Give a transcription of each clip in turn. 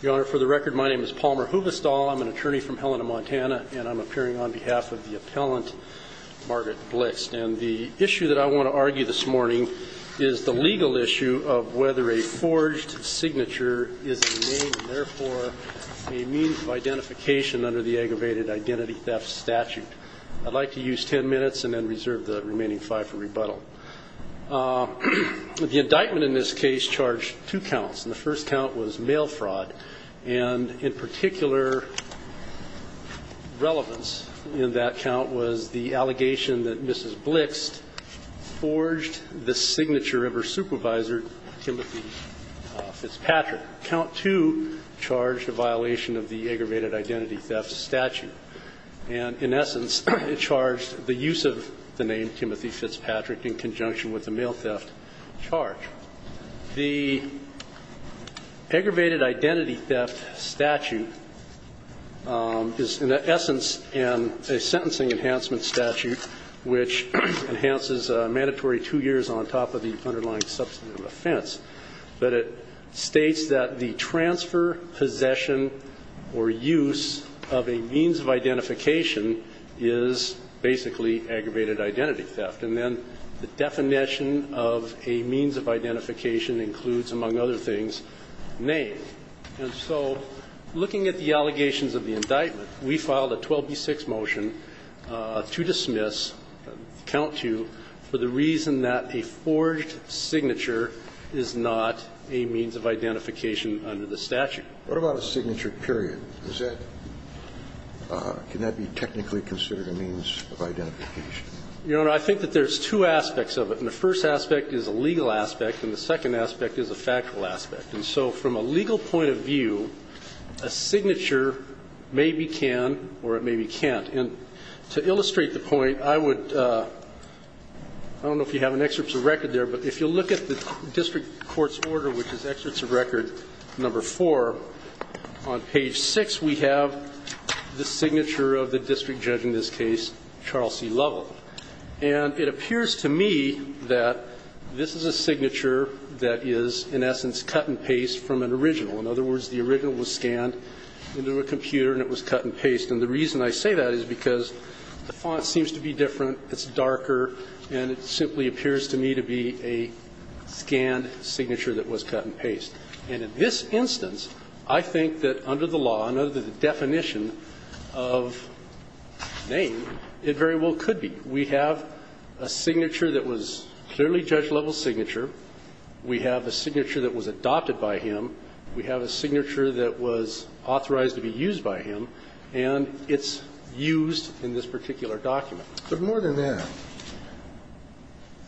Your Honor, for the record, my name is Palmer Huvestal. I'm an attorney from Helena, Montana, and I'm appearing on behalf of the appellant, Margaret Blixt. And the issue that I want to argue this morning is the legal issue of whether a forged signature is a name and therefore a means of identification under the aggravated identity theft statute. I'd like to use ten minutes and then reserve the remaining five for rebuttal. The indictment in this case charged two counts, and the first count was mail fraud. And in particular relevance in that count was the allegation that Mrs. Blixt forged the signature of her supervisor, Timothy Fitzpatrick. Count two charged a violation of the aggravated identity theft statute. And in essence, it charged the use of the name Timothy Fitzpatrick in conjunction with the mail theft charge. The aggravated identity theft statute is in essence a sentencing enhancement statute which enhances a mandatory two years on top of the underlying substantive offense. But it states that the transfer, possession, or use of a means of identification is basically aggravated identity theft. And then the definition of a means of identification includes, among other things, name. And so looking at the allegations of the indictment, we filed a 12B6 motion to dismiss, count two, for the reason that a forged signature is not a means of identification under the statute. What about a signature period? Is that, can that be technically considered a means of identification? Your Honor, I think that there's two aspects of it. And the first aspect is a legal aspect, and the second aspect is a factual aspect. And so from a legal point of view, a signature maybe can or it maybe can't. And to illustrate the point, I would, I don't know if you have an excerpt of record there, but if you look at the district court's order, which is excerpts of record number four, on page six we have the signature of the district judge in this case, Charles C. Lovell. And it appears to me that this is a signature that is, in essence, cut and paste from an original. In other words, the original was scanned into a computer and it was cut and paste. And the reason I say that is because the font seems to be different, it's darker, and it simply appears to me to be a scanned signature that was cut and paste. And in this instance, I think that under the law, under the definition of name, it very well could be. We have a signature that was clearly Judge Lovell's signature. We have a signature that was adopted by him. We have a signature that was authorized to be used by him. And it's used in this particular document. But more than that,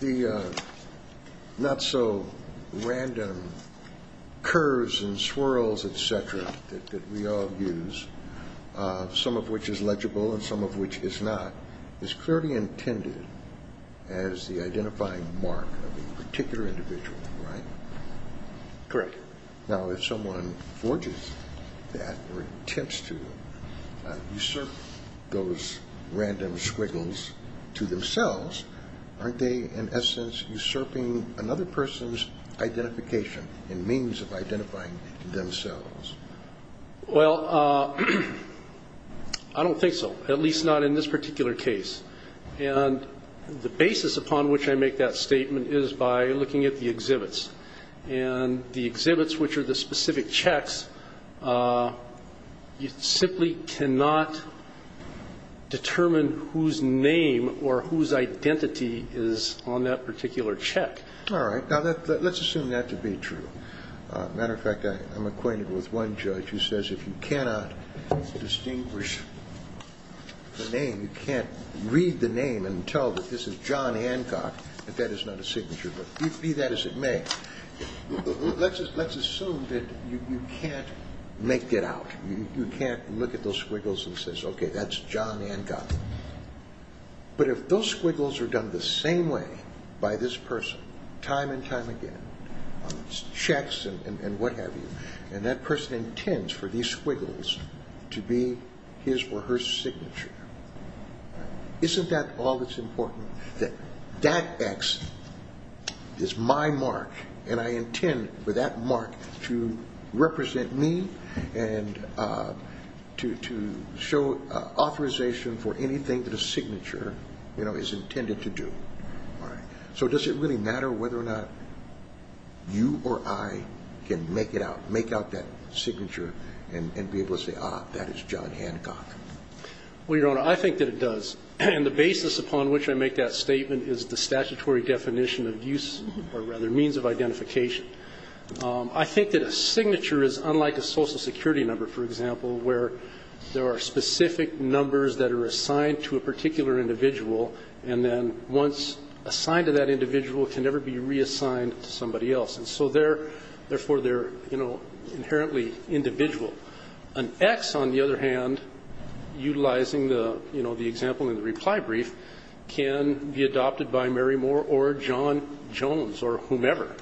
the not-so-random curves and swirls, et cetera, that we all use, some of which is legible and some of which is not, is clearly intended as the identifying mark of a particular individual, right? Correct. Now, if someone forges that or attempts to usurp those random squiggles to themselves, aren't they, in essence, usurping another person's identification and means of identifying themselves? Well, I don't think so, at least not in this particular case. And the basis upon which I make that statement is by looking at the exhibits. And the exhibits, which are the specific checks, you simply cannot determine whose name or whose identity is on that particular check. All right. Now, let's assume that to be true. Matter of fact, I'm acquainted with one judge who says if you cannot distinguish the name, you can't read the name and tell that this is John Hancock, that that is not a signature. But be that as it may, let's assume that you can't make that out. You can't look at those squiggles and say, okay, that's John Hancock. But if those squiggles are done the same way by this person time and time again, checks and what have you, and that person intends for these squiggles to be his or her signature, isn't that all that's important, that that X is my mark and I intend for that mark to represent me and to show authorization for anything that a signature is intended to do? All right. So does it really matter whether or not you or I can make it out, make out that signature and be able to say, ah, that is John Hancock? Well, Your Honor, I think that it does. And the basis upon which I make that statement is the statutory definition of use or rather means of identification. I think that a signature is unlike a Social Security number, for example, where there are specific numbers that are assigned to a particular individual and then once assigned to that individual, it can never be reassigned to somebody else. And so therefore, they're, you know, inherently individual. An X, on the other hand, utilizing the, you know, the example in the reply brief can be adopted by Mary Moore or John Jones or whomever.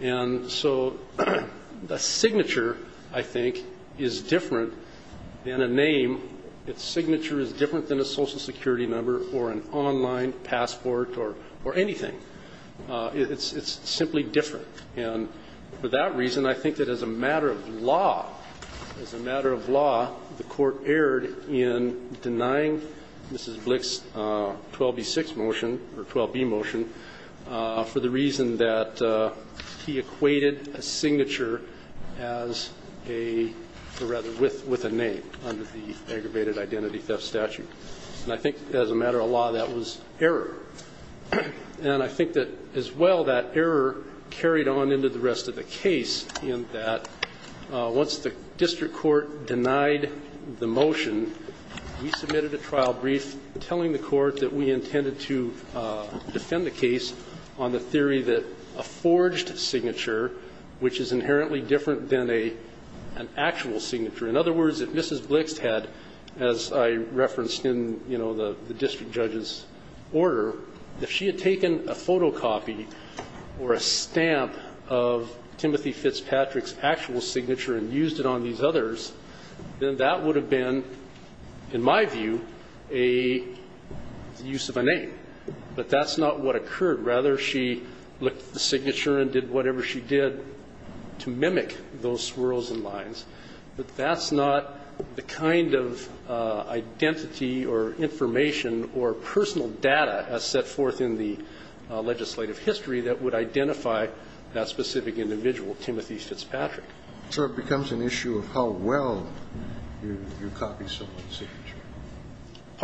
And so the signature, I think, is different than a name. Its signature is different than a Social Security number or an online passport or anything. It's simply different. And for that reason, I think that as a matter of law, as a matter of law, the court erred in denying Mrs. Blick's 12b6 motion or 12b motion for the reason that he equated a signature as a or rather with a name under the aggravated identity theft statute. And I think as a matter of law, that was error. And I think that, as well, that error carried on into the rest of the case in that once the district court denied the motion, we submitted a trial brief telling the court that we intended to defend the case on the theory that a forged signature, which is inherently different than an actual signature. In other words, if Mrs. Blick had, as I referenced in, you know, the district judge's order, if she had taken a photocopy or a stamp of Timothy Fitzpatrick's actual signature and used it on these others, then that would have been, in my view, a use of a name. But that's not what occurred. Rather, she looked at the signature and did whatever she did to mimic those swirls and lines. But that's not the kind of identity or information or personal data as set forth in the legislative history that would identify that specific individual, Timothy Fitzpatrick. So it becomes an issue of how well you copy someone's signature.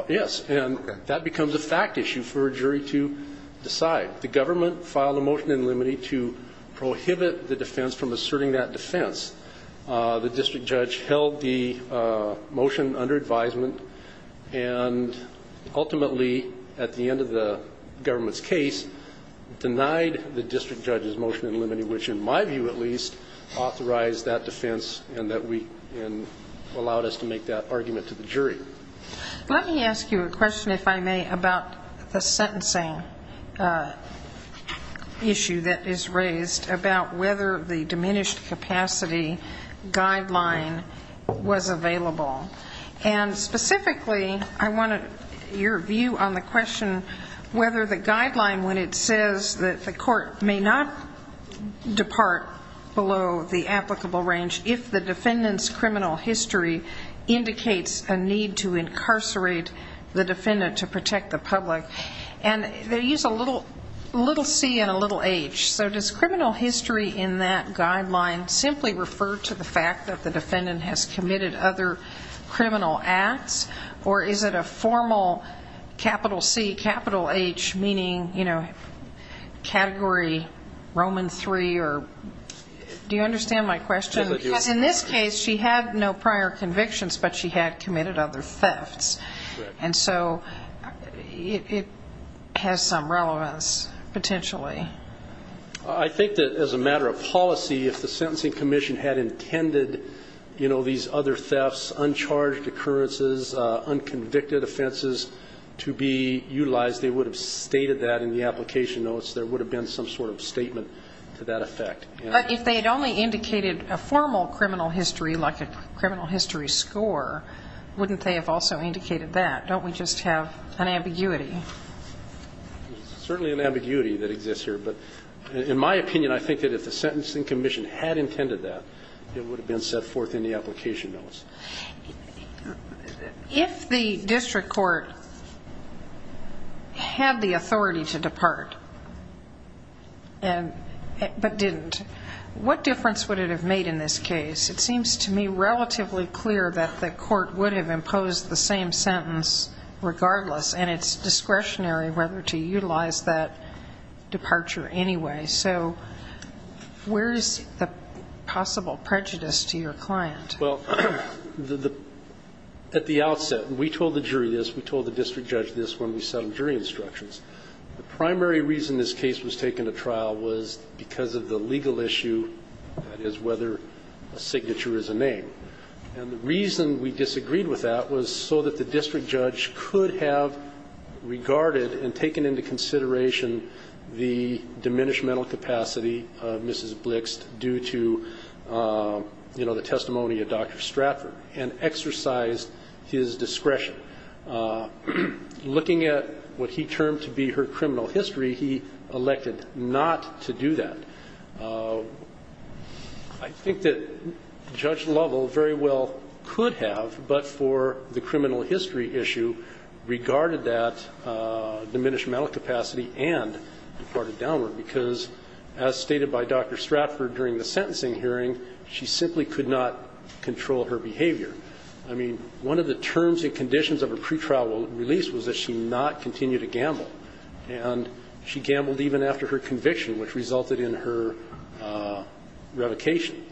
Yes. And that becomes a fact issue for a jury to decide. The government filed a motion in limine to prohibit the defense from asserting that defense. The district judge held the motion under advisement and ultimately, at the end of the government's case, denied the district judge's motion in limine, which in my view at least authorized that defense and allowed us to make that argument to the jury. Let me ask you a question, if I may, about the sentencing issue that is raised about whether the diminished capacity guideline was available. And specifically, I want your view on the question whether the guideline when it says that the court may not depart below the applicable range if the defendant's criminal history indicates a need to incarcerate the defendant to protect the public. And they use a little c and a little h. So does criminal history in that guideline simply refer to the fact that the defendant has committed other criminal acts or is it a formal capital C, capital H, meaning category Roman III? Do you understand my question? Because in this case, she had no prior convictions, but she had committed other thefts. And so it has some relevance potentially. I think that as a matter of policy, if the sentencing commission had intended these other thefts, uncharged occurrences, unconvicted offenses to be utilized, they would have stated that in the application notes. There would have been some sort of statement to that effect. But if they had only indicated a formal criminal history, like a criminal history score, wouldn't they have also indicated that? Don't we just have an ambiguity? Certainly an ambiguity that exists here. But in my opinion, I think that if the sentencing commission had intended that, it would have been set forth in the application notes. If the district court had the authority to depart but didn't, what difference would it have made in this case? It seems to me relatively clear that the court would have imposed the same sentence regardless. And it's discretionary whether to utilize that departure anyway. So where is the possible prejudice to your client? Well, at the outset, we told the jury this. We told the district judge this when we settled jury instructions. The primary reason this case was taken to trial was because of the legal issue, that is, whether a signature is a name. And the reason we disagreed with that was so that the district judge could have regarded and taken into consideration the diminishmental capacity of Mrs. Blix due to, you know, the testimony of Dr. Stratford and exercised his discretion. Looking at what he termed to be her criminal history, he elected not to do that. I think that Judge Lovell very well could have, but for the criminal history issue, regarded that diminishmental capacity and departed downward because, as stated by Dr. Stratford during the sentencing hearing, she simply could not control her behavior. I mean, one of the terms and conditions of her pretrial release was that she not continue to gamble. And she gambled even after her conviction, which resulted in her revocation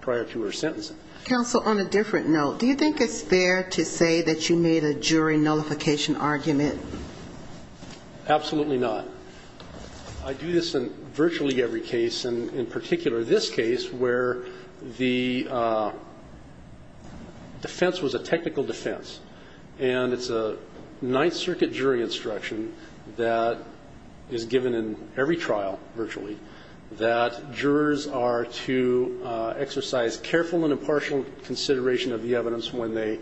prior to her sentencing. Counsel, on a different note, do you think it's fair to say that you made a jury nullification argument? Absolutely not. I do this in virtually every case, and in particular this case, where the defense was a technical defense. And it's a Ninth Circuit jury instruction that is given in every trial virtually that jurors are to exercise careful and impartial consideration of the evidence when they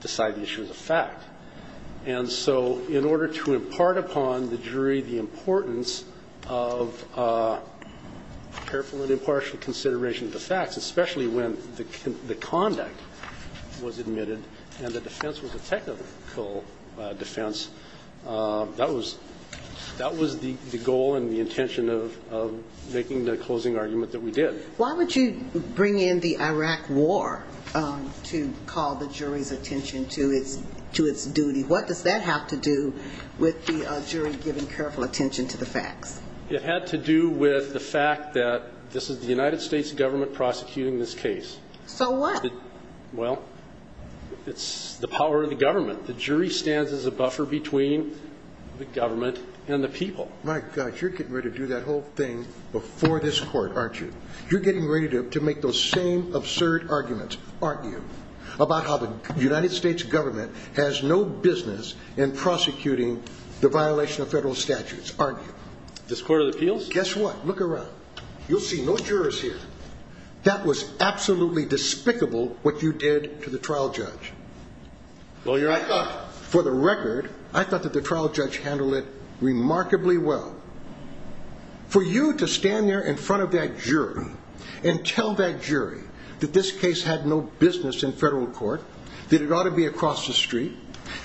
decide the issue is a fact. And so in order to impart upon the jury the importance of careful and impartial consideration of the facts, especially when the conduct was admitted and the defense was a technical defense, that was the goal and the intention of making the closing argument that we did. Why would you bring in the Iraq war to call the jury's attention to its duty? What does that have to do with the jury giving careful attention to the facts? It had to do with the fact that this is the United States government prosecuting this case. So what? Well, it's the power of the government. The jury stands as a buffer between the government and the people. My gosh, you're getting ready to do that whole thing before this court, aren't you? You're getting ready to make those same absurd arguments, aren't you, about how the United States government has no business in prosecuting the violation of federal statutes, aren't you? This Court of Appeals? Guess what. Look around. You'll see no jurors here. That was absolutely despicable what you did to the trial judge. Well, your Honor, I thought... For the record, I thought that the trial judge handled it remarkably well. For you to stand there in front of that jury and tell that jury that this case had no business in federal court, that it ought to be across the street,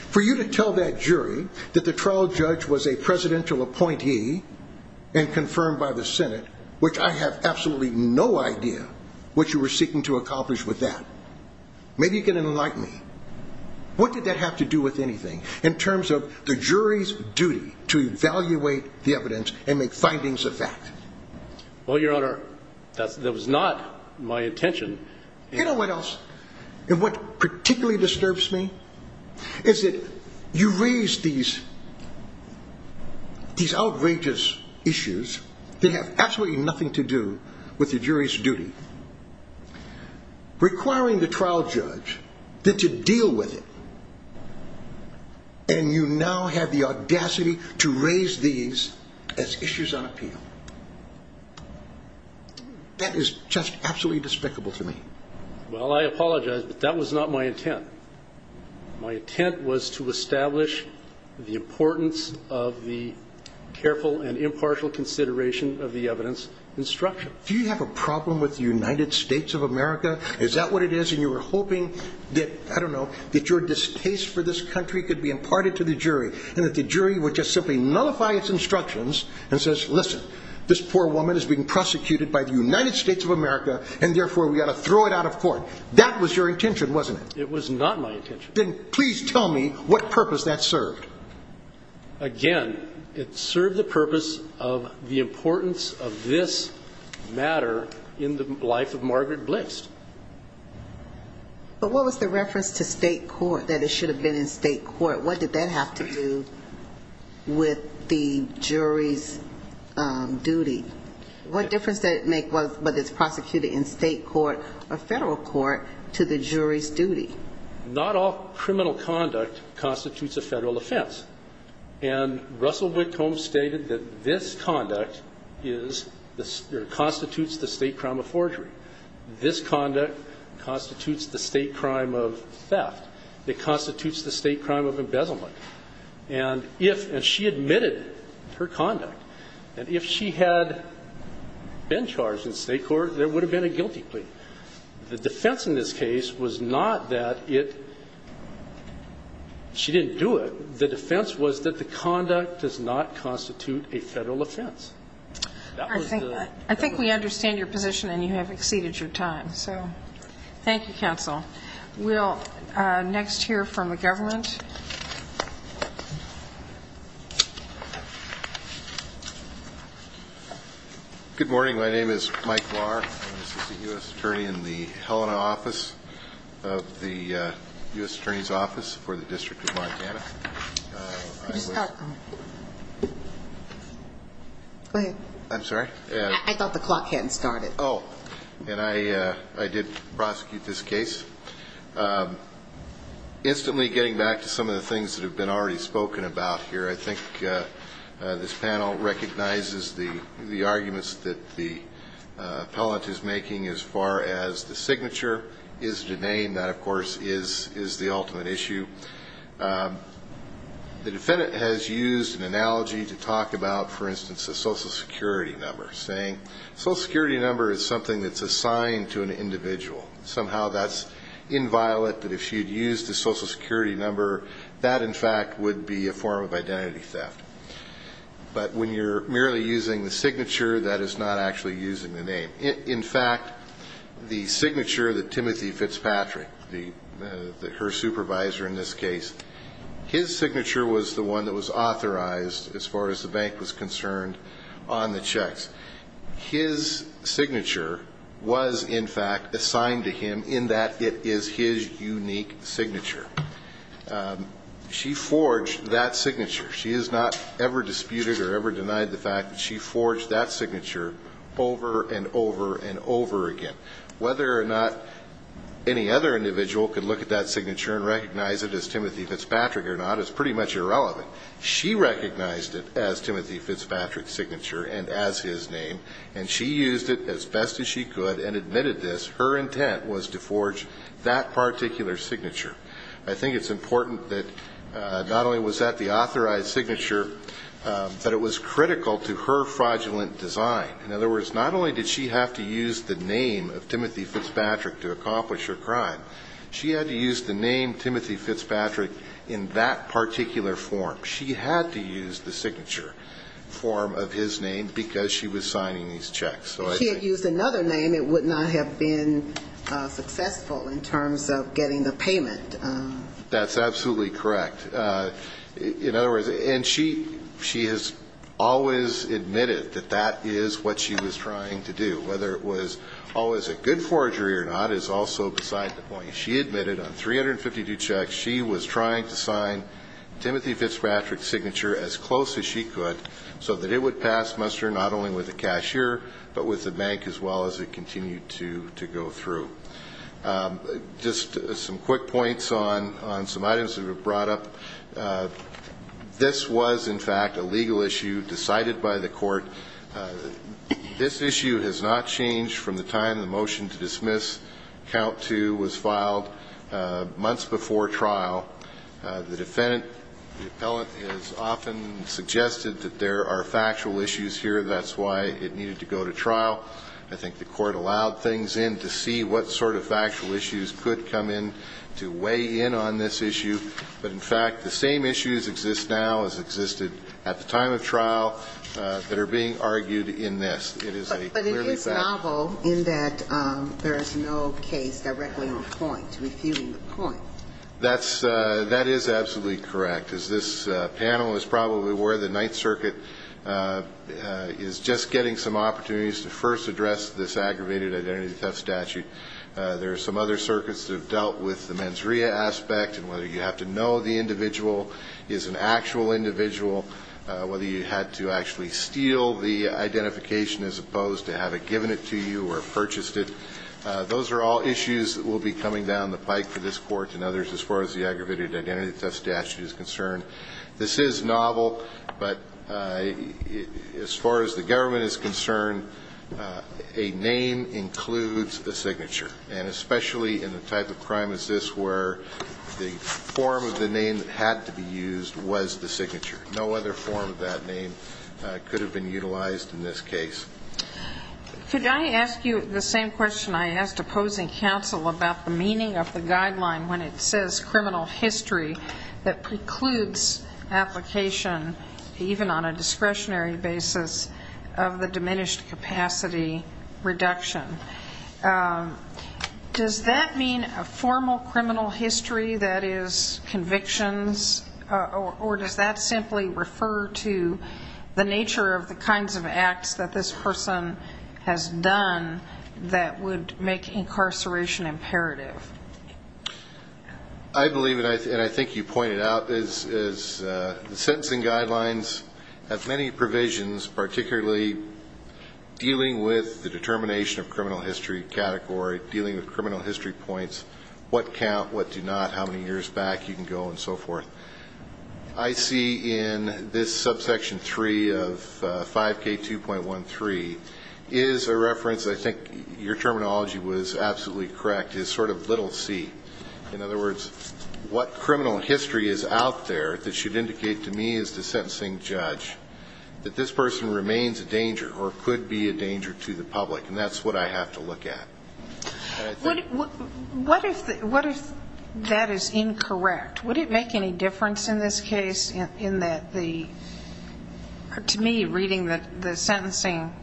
for you to tell that jury that the trial judge was a presidential appointee and confirmed by the Senate, which I have absolutely no idea what you were seeking to accomplish with that. Maybe you can enlighten me. What did that have to do with anything in terms of the jury's duty to evaluate the evidence and make findings of fact? Well, your Honor, that was not my intention. You know what else? And what particularly disturbs me is that you raise these outrageous issues that have absolutely nothing to do with the jury's duty, requiring the trial judge then to deal with it, and you now have the audacity to raise these as issues on appeal. That is just absolutely despicable to me. Well, I apologize, but that was not my intent. My intent was to establish the importance of the careful and impartial consideration of the evidence instruction. Do you have a problem with the United States of America? Is that what it is? And you were hoping that, I don't know, that your distaste for this country could be imparted to the jury and that the jury would just simply nullify its instructions and says, listen, this poor woman is being prosecuted by the United States of America, and therefore we ought to throw it out of court. That was your intention, wasn't it? It was not my intention. Then please tell me what purpose that served. Again, it served the purpose of the importance of this matter in the life of Margaret Blitzt. But what was the reference to state court, that it should have been in state court? What did that have to do with the jury's duty? What difference did it make, whether it's prosecuted in state court or federal court, to the jury's duty? Not all criminal conduct constitutes a federal offense. And Russell Wickhom stated that this conduct constitutes the state crime of forgery. This conduct constitutes the state crime of theft. It constitutes the state crime of embezzlement. And if she admitted her conduct, and if she had been charged in state court, there would have been a guilty plea. The defense in this case was not that she didn't do it. The defense was that the conduct does not constitute a federal offense. I think we understand your position, and you have exceeded your time. So thank you, counsel. We'll next hear from the government. Good morning. My name is Mike Lahr, and this is the U.S. attorney in the Helena office of the U.S. Attorney's Office for the District of Montana. Could you start? Go ahead. I'm sorry? I thought the clock hadn't started. Oh, and I did prosecute this case. Instantly getting back to some of the things that have been already spoken about here, I think this panel recognizes the arguments that the appellant is making as far as the signature is the name. That, of course, is the ultimate issue. The defendant has used an analogy to talk about, for instance, a Social Security number, saying a Social Security number is something that's assigned to an individual. Somehow that's inviolate that if she had used a Social Security number, that, in fact, would be a form of identity theft. But when you're merely using the signature, that is not actually using the name. In fact, the signature that Timothy Fitzpatrick, her supervisor in this case, his signature was the one that was authorized as far as the bank was concerned on the checks. His signature was, in fact, assigned to him in that it is his unique signature. She forged that signature. She has not ever disputed or ever denied the fact that she forged that signature over and over and over again. Whether or not any other individual could look at that signature and recognize it as Timothy Fitzpatrick or not is pretty much irrelevant. She recognized it as Timothy Fitzpatrick's signature and as his name, and she used it as best as she could and admitted this. Her intent was to forge that particular signature. I think it's important that not only was that the authorized signature, but it was critical to her fraudulent design. In other words, not only did she have to use the name of Timothy Fitzpatrick to accomplish her crime, she had to use the name Timothy Fitzpatrick in that particular form. She had to use the signature form of his name because she was signing these checks. If she had used another name, it would not have been successful in terms of getting the payment. That's absolutely correct. In other words, and she has always admitted that that is what she was trying to do. Whether it was always a good forgery or not is also beside the point. She admitted on 352 checks she was trying to sign Timothy Fitzpatrick's signature as close as she could so that it would pass muster not only with the cashier but with the bank as well as it continued to go through. Just some quick points on some items that were brought up. This was, in fact, a legal issue decided by the court. This issue has not changed from the time the motion to dismiss count two was filed months before trial. The defendant, the appellant, has often suggested that there are factual issues here. That's why it needed to go to trial. I think the court allowed things in to see what sort of factual issues could come in to weigh in on this issue. But, in fact, the same issues exist now as existed at the time of trial that are being argued in this. But it is novel in that there is no case directly on point, refuting the point. That is absolutely correct. As this panel is probably aware, the Ninth Circuit is just getting some opportunities to first address this aggravated identity theft statute. There are some other circuits that have dealt with the mens rea aspect and whether you have to know the individual is an actual individual, whether you had to actually steal the identification as opposed to have it given it to you or purchased it. Those are all issues that will be coming down the pike for this court and others as far as the aggravated identity theft statute is concerned. This is novel, but as far as the government is concerned, a name includes a signature. And especially in the type of crime as this where the form of the name that had to be used was the signature. No other form of that name could have been utilized in this case. Could I ask you the same question I asked opposing counsel about the meaning of the guideline when it says criminal history that precludes application, even on a discretionary basis, of the diminished capacity reduction? Does that mean a formal criminal history that is convictions, or does that simply refer to the nature of the kinds of acts that this person has done that would make incarceration imperative? I believe, and I think you pointed out, is the sentencing guidelines have many provisions, particularly dealing with the determination of criminal history category, dealing with criminal history points, what count, what do not, how many years back, you can go, and so forth. I see in this subsection 3 of 5K2.13 is a reference, I think your terminology was absolutely correct, is sort of little c. In other words, what criminal history is out there that should indicate to me as the sentencing judge that this person remains a danger or could be a danger to the public, and that's what I have to look at. What if that is incorrect? Would it make any difference in this case in that the, to me, reading the sentencing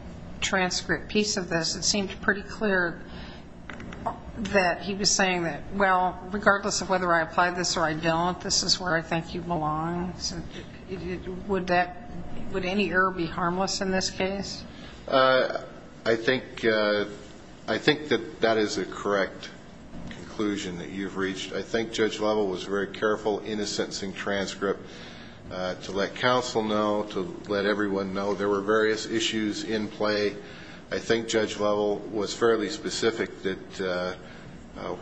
transcript piece of this, it seemed pretty clear that he was saying that, well, regardless of whether I apply this or I don't, this is where I think you belong. Would any error be harmless in this case? I think that that is a correct conclusion that you've reached. I think Judge Lovell was very careful in his sentencing transcript to let counsel know, to let everyone know there were various issues in play. I think Judge Lovell was fairly specific that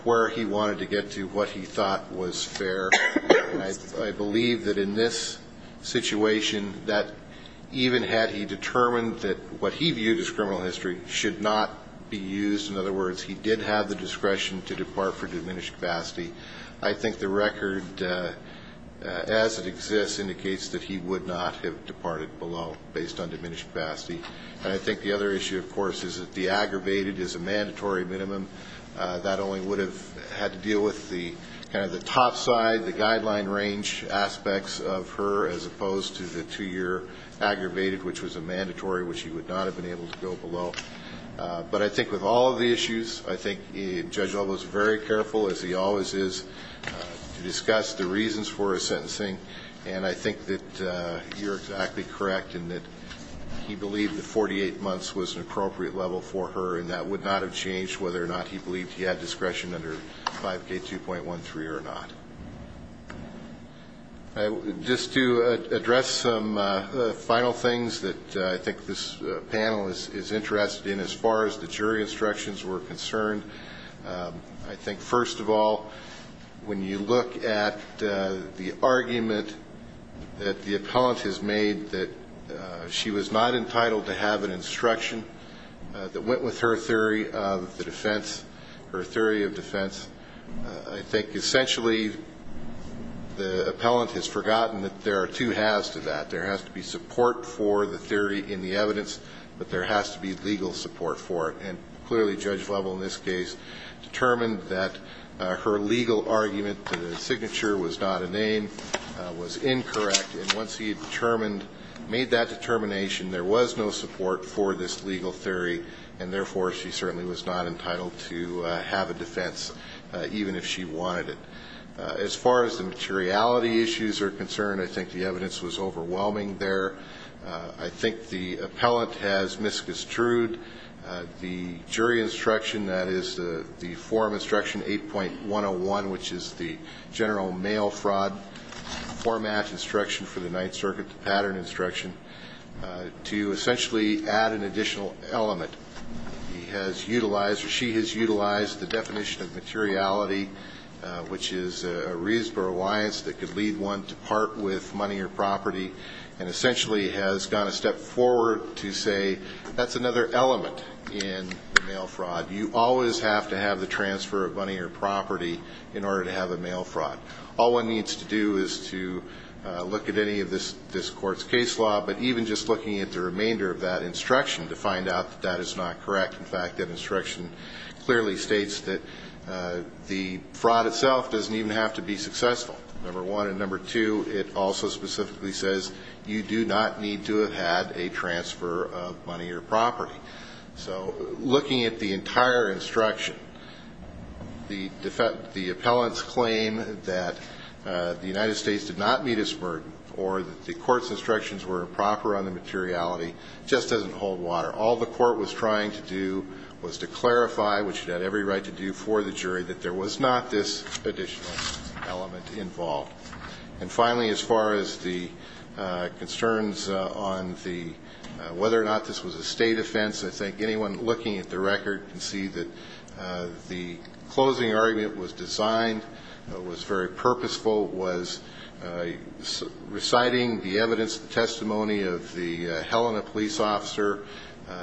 where he wanted to get to, what he thought was fair, and I believe that in this situation, that even had he determined that what he viewed as criminal history should not be used, in other words, he did have the discretion to depart for diminished capacity, I think the record as it exists indicates that he would not have departed below based on diminished capacity. And I think the other issue, of course, is that the aggravated is a mandatory minimum. That only would have had to deal with the kind of the top side, the guideline range aspects of her, as opposed to the two-year aggravated, which was a mandatory, which he would not have been able to go below. But I think with all of the issues, I think Judge Lovell was very careful, as he always is, to discuss the reasons for his sentencing. And I think that you're exactly correct in that he believed that 48 months was an appropriate level for her, and that would not have changed whether or not he had gone below. Whether or not he believed he had discretion under 5K2.13 or not. Just to address some final things that I think this panel is interested in, as far as the jury instructions were concerned. I think, first of all, when you look at the argument that the appellant has made that she was not entitled to have an instruction that went with her theory of the defense. Her theory of defense, I think essentially the appellant has forgotten that there are two halves to that. There has to be support for the theory in the evidence, but there has to be legal support for it. And clearly, Judge Lovell in this case determined that her legal argument, the signature was not a name, was incorrect. And once he had determined, made that determination, there was no support for this legal theory. And therefore, she certainly was not entitled to have a defense, even if she wanted it. As far as the materiality issues are concerned, I think the evidence was overwhelming there. I think the appellant has misconstrued the jury instruction that is the form instruction 8.101, which is the general mail fraud format instruction for the Ninth Circuit, the pattern instruction. To essentially add an additional element, he has utilized or she has utilized the definition of materiality, which is a reason for reliance that could lead one to part with money or property, and essentially has gone a step forward to say that's another element in the mail fraud. You always have to have the transfer of money or property in order to have a mail fraud. All one needs to do is to look at any of this court's case law, but even just looking at the remainder of that instruction to find out that that is not correct. In fact, that instruction clearly states that the fraud itself doesn't even have to be successful, number one. And number two, it also specifically says you do not need to have had a transfer of money or property. So looking at the entire instruction, the appellant's claim that the United States did not meet its burden or that the court's instructions were improper on the materiality just doesn't hold water. All the court was trying to do was to clarify, which it had every right to do for the jury, that there was not this additional element involved. And finally, as far as the concerns on whether or not this was a state offense, I think anyone looking at the record can see that the closing argument was designed, was very purposeful, was reciting the evidence, the testimony of the Helena police officer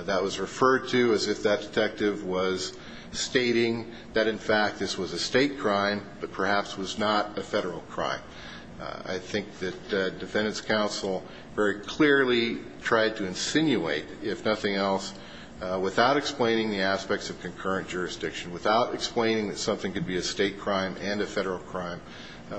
that was referred to as if that detective was stating that, in fact, this was a state crime, but perhaps was not a federal crime. I think that defendants' counsel very clearly tried to insinuate, if nothing else, without explaining the aspects of concurrent jurisdiction, without explaining that something could be a state crime and a federal crime,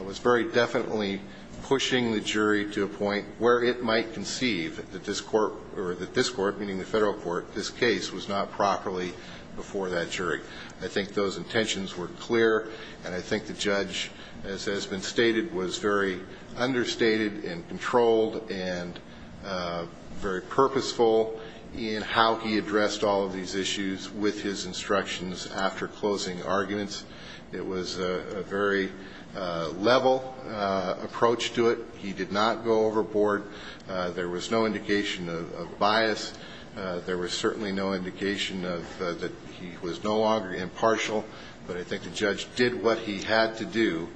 was very definitely pushing the jury to a point where it might conceive that this court, or that this court, meaning the federal court, this case, was not properly before that jury. I think those intentions were clear, and I think the judge, as has been stated, was very understated and controlled and very purposeful in how he addressed all of these issues with his instructions after closing arguments. It was a very level approach to it. He did not go overboard. There was no indication of bias. There was certainly no indication that he was no longer impartial, but I think the judge did what he had to do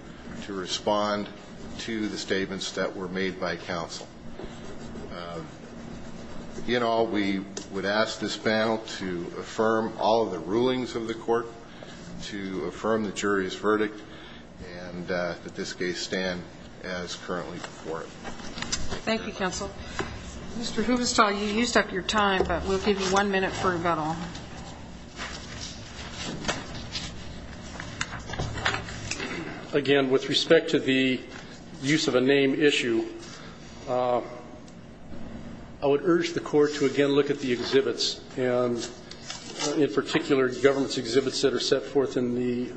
to respond to the statements that were made by counsel. In all, we would ask this panel to affirm all of the rulings of the court, to affirm the jury's verdict, and that this case stand as currently before it. Thank you, counsel. Mr. Hubestall, you used up your time, but we'll give you one minute for rebuttal. Again, with respect to the use of a name issue, I would urge the court to again look at the exhibits, and in particular government's exhibits that are set forth in the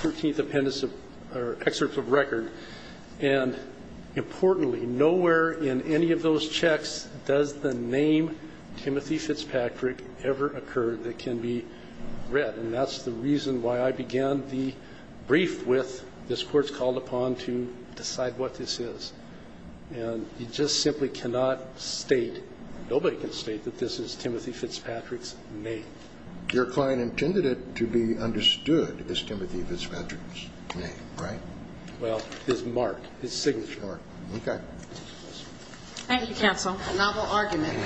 13th appendix or excerpt of record. And importantly, nowhere in any of those checks does the name Timothy Fitzpatrick ever occur that can be read, and that's the reason why I began the brief with this court's called upon to decide what this is. And you just simply cannot state, nobody can state that this is Timothy Fitzpatrick's name. Your client intended it to be understood as Timothy Fitzpatrick's name, right? Well, his mark, his signature. Thank you, counsel. A novel argument.